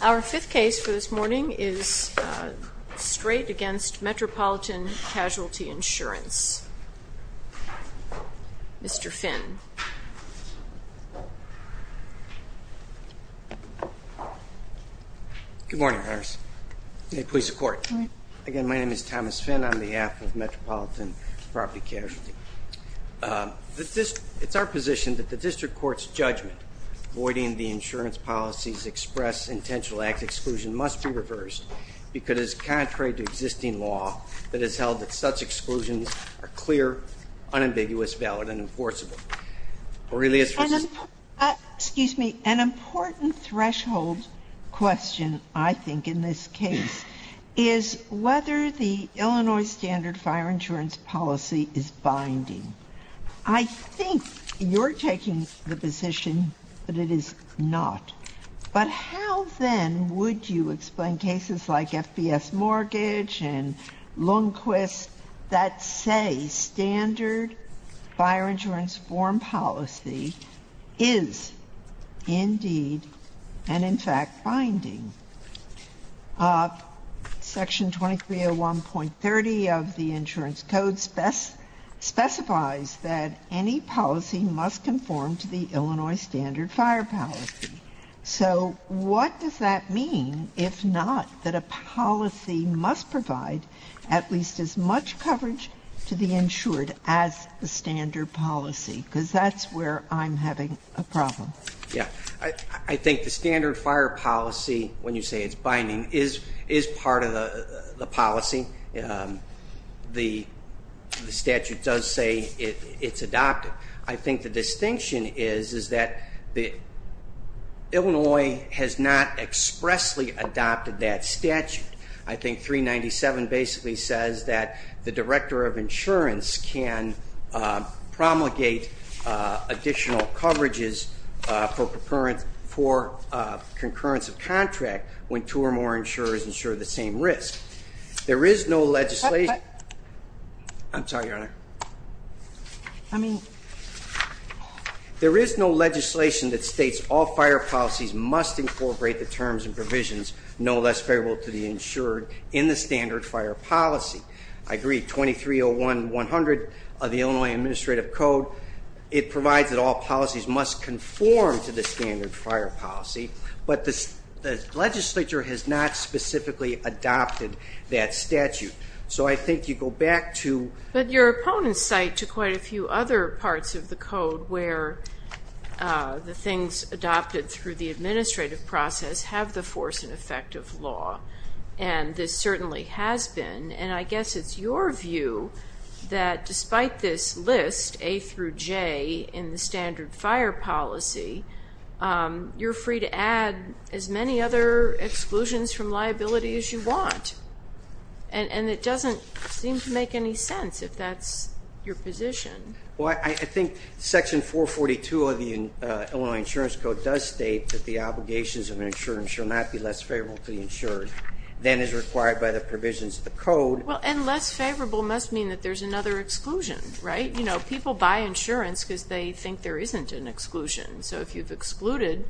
Our fifth case for this morning is Streit v. Metropolitan Casualty Insurance. Mr. Finn. Good morning, Harris. May it please the Court. Good morning. Again, my name is Thomas Finn on behalf of Metropolitan Property Casualty. It's our position that the District Court's judgment avoiding the insurance policy's express intentional act exclusion must be reversed because it is contrary to existing law that has held that such exclusions are clear, unambiguous, valid, and enforceable. Excuse me. An important threshold question, I think, in this case is whether the Illinois standard fire insurance policy is binding. I think you're taking the position that it is not. But how, then, would you explain cases like FBS Mortgage and Lundquist that say standard fire insurance form policy is, indeed, and, in fact, binding? Section 2301.30 of the Insurance Code specifies that any policy must conform to the Illinois standard fire policy. So what does that mean if not that a policy must provide at least as much coverage to the insured as the standard policy? Because that's where I'm having a problem. I think the standard fire policy, when you say it's binding, is part of the policy. The statute does say it's adopted. I think the distinction is that Illinois has not expressly adopted that statute. I think 397 basically says that the director of insurance can promulgate additional coverages for concurrence of contract when two or more insurers insure the same risk. There is no legislation that states all fire policies must incorporate the terms and provisions no less favorable to the insured in the standard fire policy. I agree. 2301.100 of the Illinois Administrative Code, it provides that all policies must conform to the standard fire policy. But the legislature has not specifically adopted that statute. So I think you go back to- But your opponents cite to quite a few other parts of the code where the things adopted through the administrative process have the force and effect of law. And this certainly has been. And I guess it's your view that despite this list, A through J, in the standard fire policy, you're free to add as many other exclusions from liability as you want. And it doesn't seem to make any sense if that's your position. Well, I think section 442 of the Illinois Insurance Code does state that the obligations of an insurer shall not be less favorable to the insured than is required by the provisions of the code. Well, and less favorable must mean that there's another exclusion, right? You know, people buy insurance because they think there isn't an exclusion. So if you've excluded,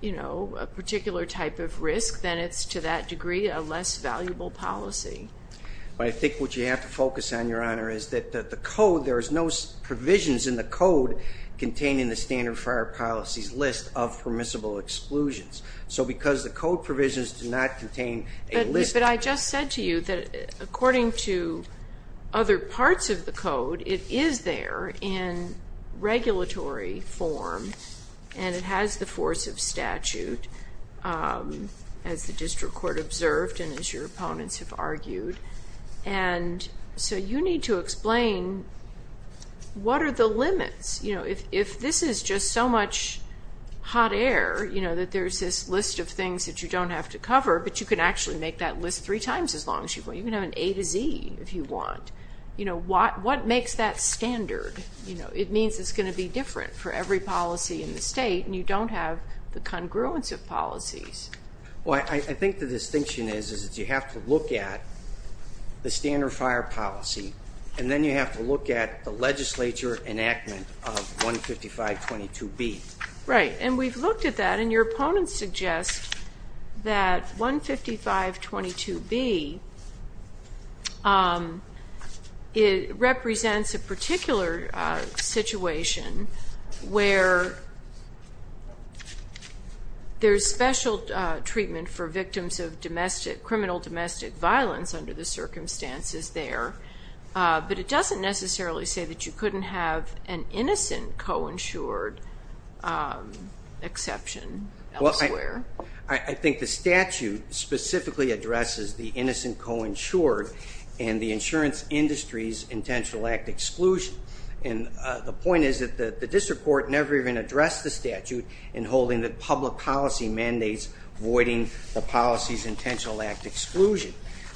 you know, a particular type of risk, then it's to that degree a less valuable policy. But I think what you have to focus on, Your Honor, is that the code, there's no provisions in the code containing the standard fire policy's list of permissible exclusions. So because the code provisions do not contain a list- And it has the force of statute, as the district court observed and as your opponents have argued. And so you need to explain what are the limits. You know, if this is just so much hot air, you know, that there's this list of things that you don't have to cover, but you can actually make that list three times as long as you want. You can have an A to Z if you want. You know, what makes that standard? You know, it means it's going to be different for every policy in the state, and you don't have the congruence of policies. Well, I think the distinction is that you have to look at the standard fire policy, and then you have to look at the legislature enactment of 15522B. Right, and we've looked at that, and your opponents suggest that 15522B represents a particular situation where there's special treatment for victims of criminal domestic violence under the circumstances there. But it doesn't necessarily say that you couldn't have an innocent co-insured exception elsewhere. Well, I think the statute specifically addresses the innocent co-insured and the insurance industry's intentional act exclusion. And the point is that the district court never even addressed the statute in holding the public policy mandates voiding the policy's intentional act exclusion.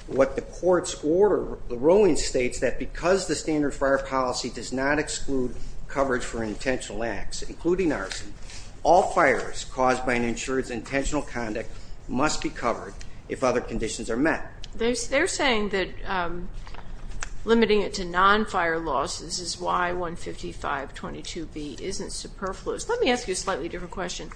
What the courts order, the ruling states that because the standard fire policy does not exclude coverage for intentional acts, including arson, all fires caused by an insured's intentional conduct must be covered if other conditions are met. They're saying that limiting it to non-fire laws, this is why 15522B isn't superfluous. Let me ask you a slightly different question.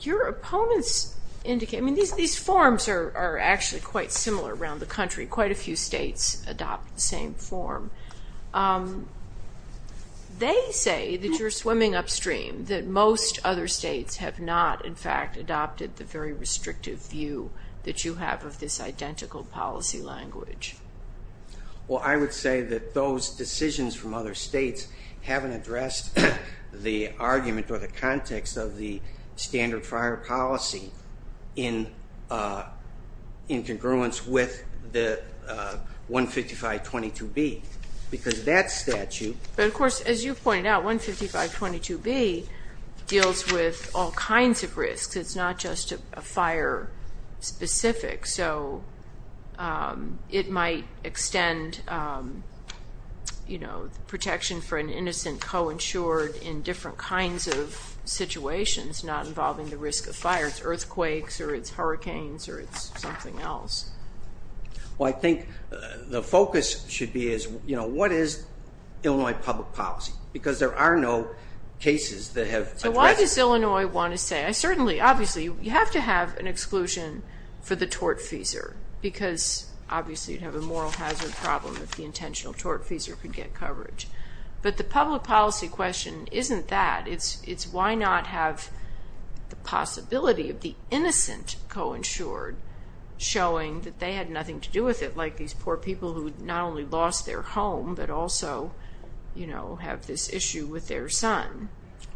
Your opponents indicate, I mean, these forms are actually quite similar around the country. Quite a few states adopt the same form. They say that you're swimming upstream, that most other states have not, in fact, adopted the very restrictive view that you have of this identical policy language. Well, I would say that those decisions from other states haven't addressed the argument or the context of the standard fire policy in congruence with 15522B. Because that statute... But of course, as you pointed out, 15522B deals with all kinds of risks. It's not just a fire specific. So it might extend protection for an innocent co-insured in different kinds of situations, not involving the risk of fire. It's earthquakes or it's hurricanes or it's something else. Well, I think the focus should be is what is Illinois public policy? Because there are no cases that have addressed... What does Illinois want to say? Certainly, obviously, you have to have an exclusion for the tortfeasor because, obviously, you'd have a moral hazard problem if the intentional tortfeasor could get coverage. But the public policy question isn't that. It's why not have the possibility of the innocent co-insured showing that they had nothing to do with it, like these poor people who not only lost their home but also have this issue with their son.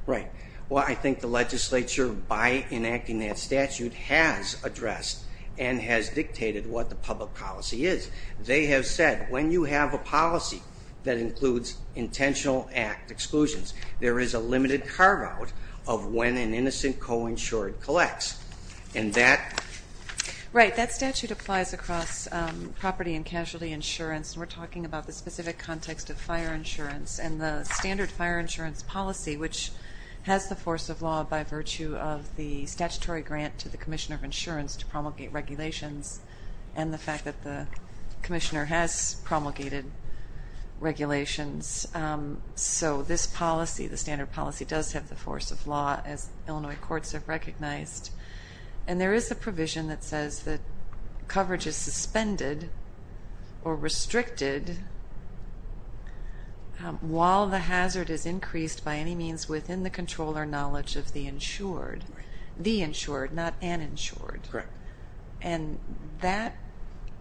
Right. Well, I think the legislature, by enacting that statute, has addressed and has dictated what the public policy is. They have said when you have a policy that includes intentional act exclusions, there is a limited carve-out of when an innocent co-insured collects. And that... Right. That statute applies across property and casualty insurance. We're talking about the specific context of fire insurance and the standard fire insurance policy, which has the force of law by virtue of the statutory grant to the commissioner of insurance to promulgate regulations and the fact that the commissioner has promulgated regulations. So this policy, the standard policy, does have the force of law, as Illinois courts have recognized. And there is a provision that says that coverage is suspended or restricted while the hazard is increased by any means within the control or knowledge of the insured. The insured, not an insured. Correct. And that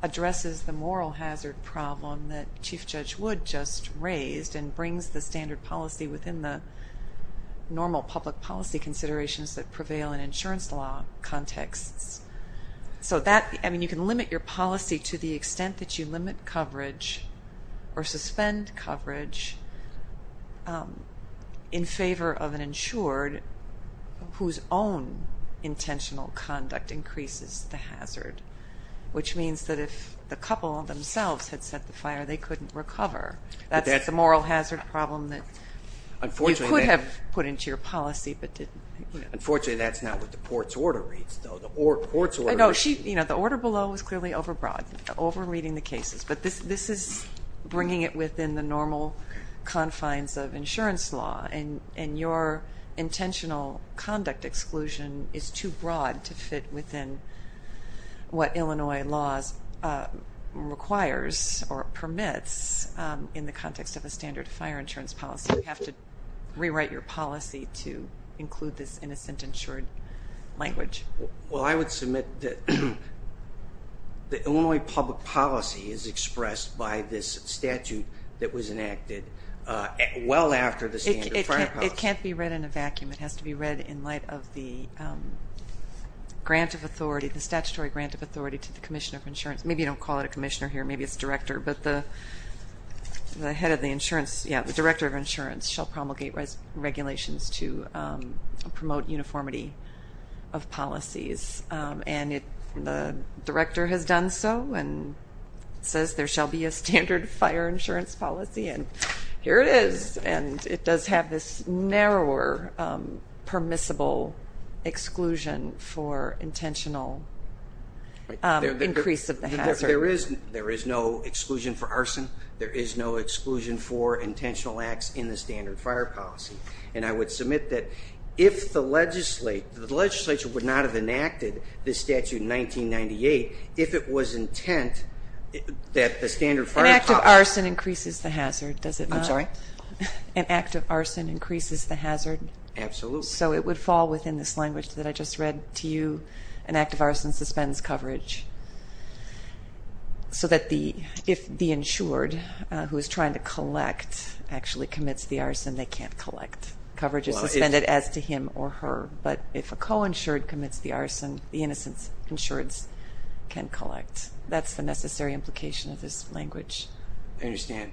addresses the moral hazard problem that Chief Judge Wood just raised and brings the standard policy within the normal public policy considerations that prevail in insurance law contexts. So that, I mean, you can limit your policy to the extent that you limit coverage or suspend coverage in favor of an insured whose own intentional conduct increases the hazard, which means that if the couple themselves had set the fire, they couldn't recover. That's the moral hazard problem that you could have put into your policy but didn't. Unfortunately, that's not what the court's order reads, though. The court's order. No, the order below is clearly over broad, over reading the cases. But this is bringing it within the normal confines of insurance law. And your intentional conduct exclusion is too broad to fit within what Illinois laws requires or permits in the context of a standard fire insurance policy. You have to rewrite your policy to include this innocent insured language. Well, I would submit that the Illinois public policy is expressed by this statute that was enacted well after the standard fire policy. It can't be read in a vacuum. It has to be read in light of the grant of authority, the statutory grant of authority to the Commissioner of Insurance. Maybe you don't call it a commissioner here. Maybe it's director. But the head of the insurance, yeah, the director of insurance shall promulgate regulations to promote uniformity of policies. And the director has done so and says there shall be a standard fire insurance policy, and here it is. And it does have this narrower permissible exclusion for intentional increase of the hazard. There is no exclusion for arson. There is no exclusion for intentional acts in the standard fire policy. And I would submit that if the legislature would not have enacted this statute in 1998, if it was intent that the standard fire policy An act of arson increases the hazard, does it not? I'm sorry? An act of arson increases the hazard. Absolutely. So it would fall within this language that I just read to you. An act of arson suspends coverage. So that if the insured who is trying to collect actually commits the arson, they can't collect. Coverage is suspended as to him or her. But if a co-insured commits the arson, the innocent insured can collect. That's the necessary implication of this language. I understand.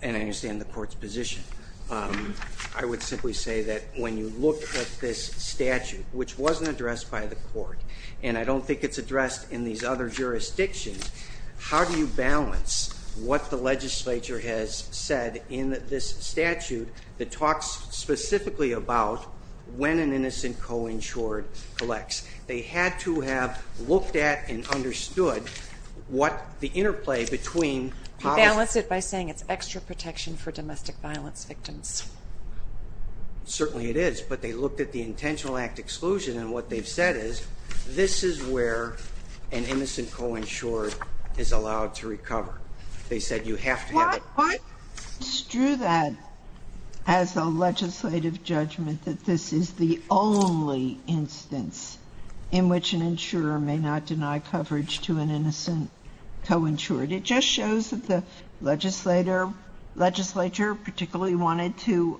And I understand the court's position. I would simply say that when you look at this statute, which wasn't addressed by the court, and I don't think it's addressed in these other jurisdictions, how do you balance what the legislature has said in this statute that talks specifically about when an innocent co-insured collects? They had to have looked at and understood what the interplay between policy That's it by saying it's extra protection for domestic violence victims. Certainly it is. But they looked at the intentional act exclusion, and what they've said is, this is where an innocent co-insured is allowed to recover. They said you have to have it. Why strew that as a legislative judgment that this is the only instance in which an insurer may not deny coverage to an innocent co-insured? It just shows that the legislature particularly wanted to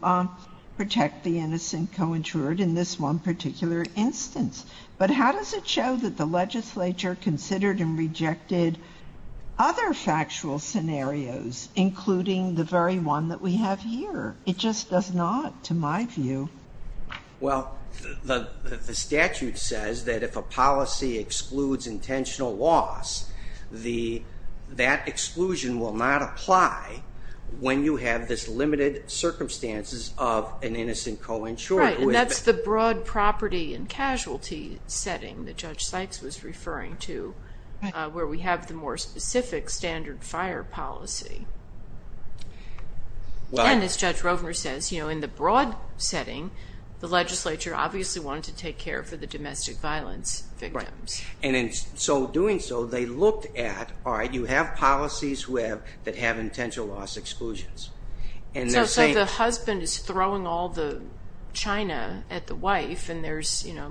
protect the innocent co-insured in this one particular instance. But how does it show that the legislature considered and rejected other factual scenarios, including the very one that we have here? It just does not, to my view. Well, the statute says that if a policy excludes intentional loss, that exclusion will not apply when you have this limited circumstances of an innocent co-insured. Right, and that's the broad property and casualty setting that Judge Sykes was referring to, where we have the more specific standard fire policy. And as Judge Rovner says, in the broad setting, the legislature obviously wanted to take care of the domestic violence victims. And in doing so, they looked at, all right, you have policies that have intentional loss exclusions. So it's like the husband is throwing all the china at the wife, and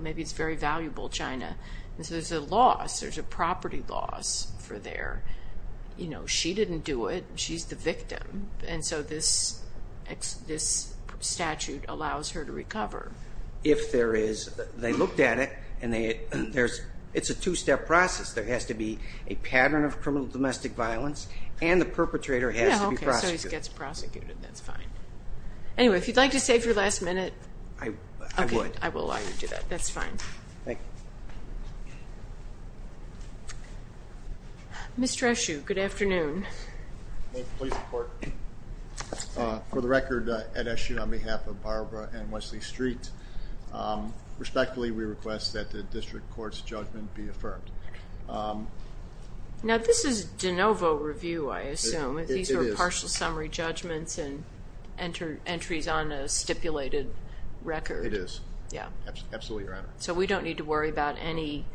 maybe it's very valuable china. There's a loss, there's a property loss for there. She didn't do it. She's the victim, and so this statute allows her to recover. If there is, they looked at it, and it's a two-step process. There has to be a pattern of criminal domestic violence, and the perpetrator has to be prosecuted. Yeah, okay, so he gets prosecuted. That's fine. Anyway, if you'd like to save your last minute. I would. Okay, I will allow you to do that. That's fine. Thank you. Mr. Eshoo, good afternoon. Please report. For the record, at Eshoo, on behalf of Barbara and Wesley Street, respectfully we request that the district court's judgment be affirmed. Now, this is de novo review, I assume. It is. These are partial summary judgments and entries on a stipulated record. It is. Yeah. Absolutely, Your Honor. So we don't need to worry about any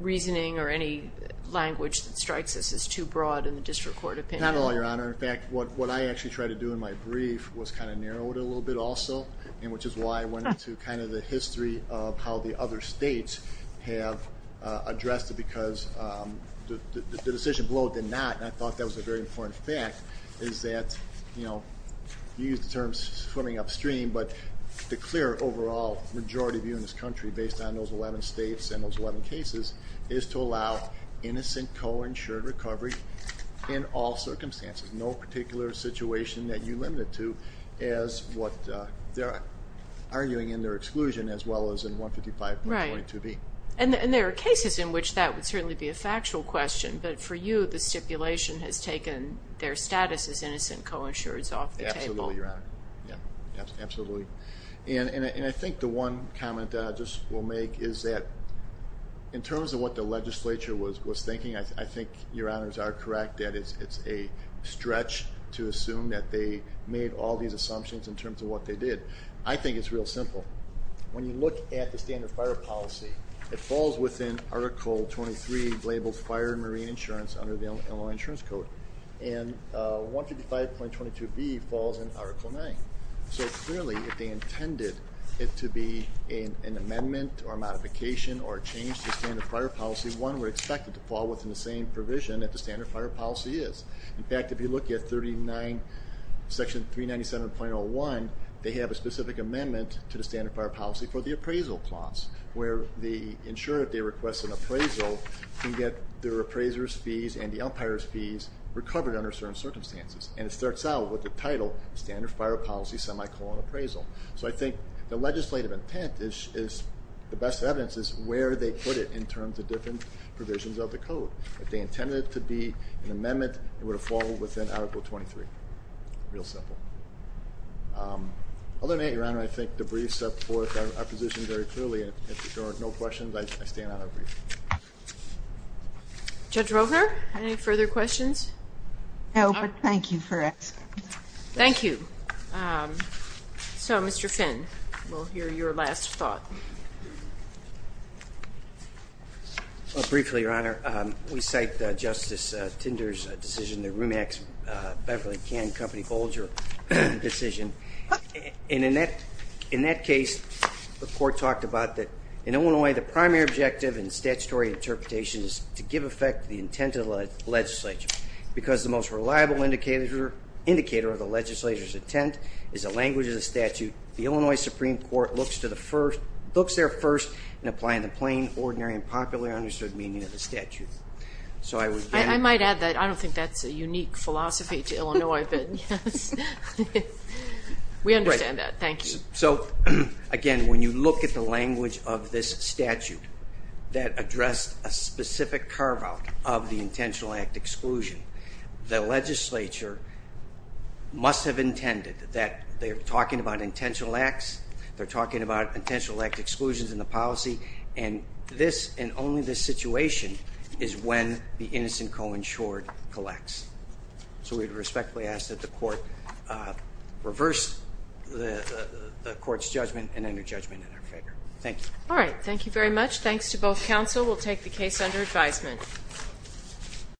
reasoning or any language that strikes us as too broad in the district court opinion? Not at all, Your Honor. In fact, what I actually tried to do in my brief was kind of narrow it a little bit also, which is why I went into kind of the history of how the other states have addressed it because the decision below it did not, and I thought that was a very important fact, is that, you know, you used the term swimming upstream, but the clear overall majority view in this country based on those 11 states and those 11 cases is to allow innocent co-insured recovery in all circumstances, no particular situation that you limit it to as what they're arguing in their exclusion as well as in 155.22b. Right. And there are cases in which that would certainly be a factual question, but for you the stipulation has taken their status as innocent co-insureds off the table. Absolutely, Your Honor. Yeah. Absolutely. And I think the one comment that I just will make is that in terms of what the legislature was thinking, I think Your Honors are correct that it's a stretch to assume that they made all these assumptions in terms of what they did. I think it's real simple. When you look at the standard fire policy, it falls within Article 23, labeled Fire and Marine Insurance under the Illinois Insurance Code, and 155.22b falls in Article 9. So clearly if they intended it to be an amendment or a modification or a change to standard fire policy, one would expect it to fall within the same provision that the standard fire policy is. In fact, if you look at section 397.01, they have a specific amendment to the standard fire policy for the appraisal clause, where the insurer, if they request an appraisal, can get their appraiser's fees and the umpire's fees recovered under certain circumstances. And it starts out with the title standard fire policy semicolon appraisal. So I think the legislative intent is the best evidence is where they put it in terms of different provisions of the code. If they intended it to be an amendment, it would have fallen within Article 23. Real simple. Other than that, Your Honor, I think the briefs support our position very clearly. If there are no questions, I stand on our brief. Judge Roker, any further questions? No, but thank you for asking. Thank you. So, Mr. Finn, we'll hear your last thought. Briefly, Your Honor, we cite Justice Tinder's decision, the RUMAX Beverly Can Company Bolger decision. And in that case, the court talked about that in Illinois, the primary objective in statutory interpretation is to give effect to the intent of the legislature. Because the most reliable indicator of the legislature's intent is the language of the statute, the Illinois Supreme Court looks there first in applying the plain, ordinary, and popularly understood meaning of the statute. I might add that I don't think that's a unique philosophy to Illinois, but we understand that. Thank you. So, again, when you look at the language of this statute that addressed a specific carve-out of the intentional act exclusion, the legislature must have intended that they're talking about intentional acts, they're talking about intentional act exclusions in the policy, and this and only this situation is when the innocent co-insured collects. So we respectfully ask that the court reverse the court's judgment and enter judgment in our favor. Thank you. All right. Thank you very much. Thanks to both counsel. We'll take the case under advisement.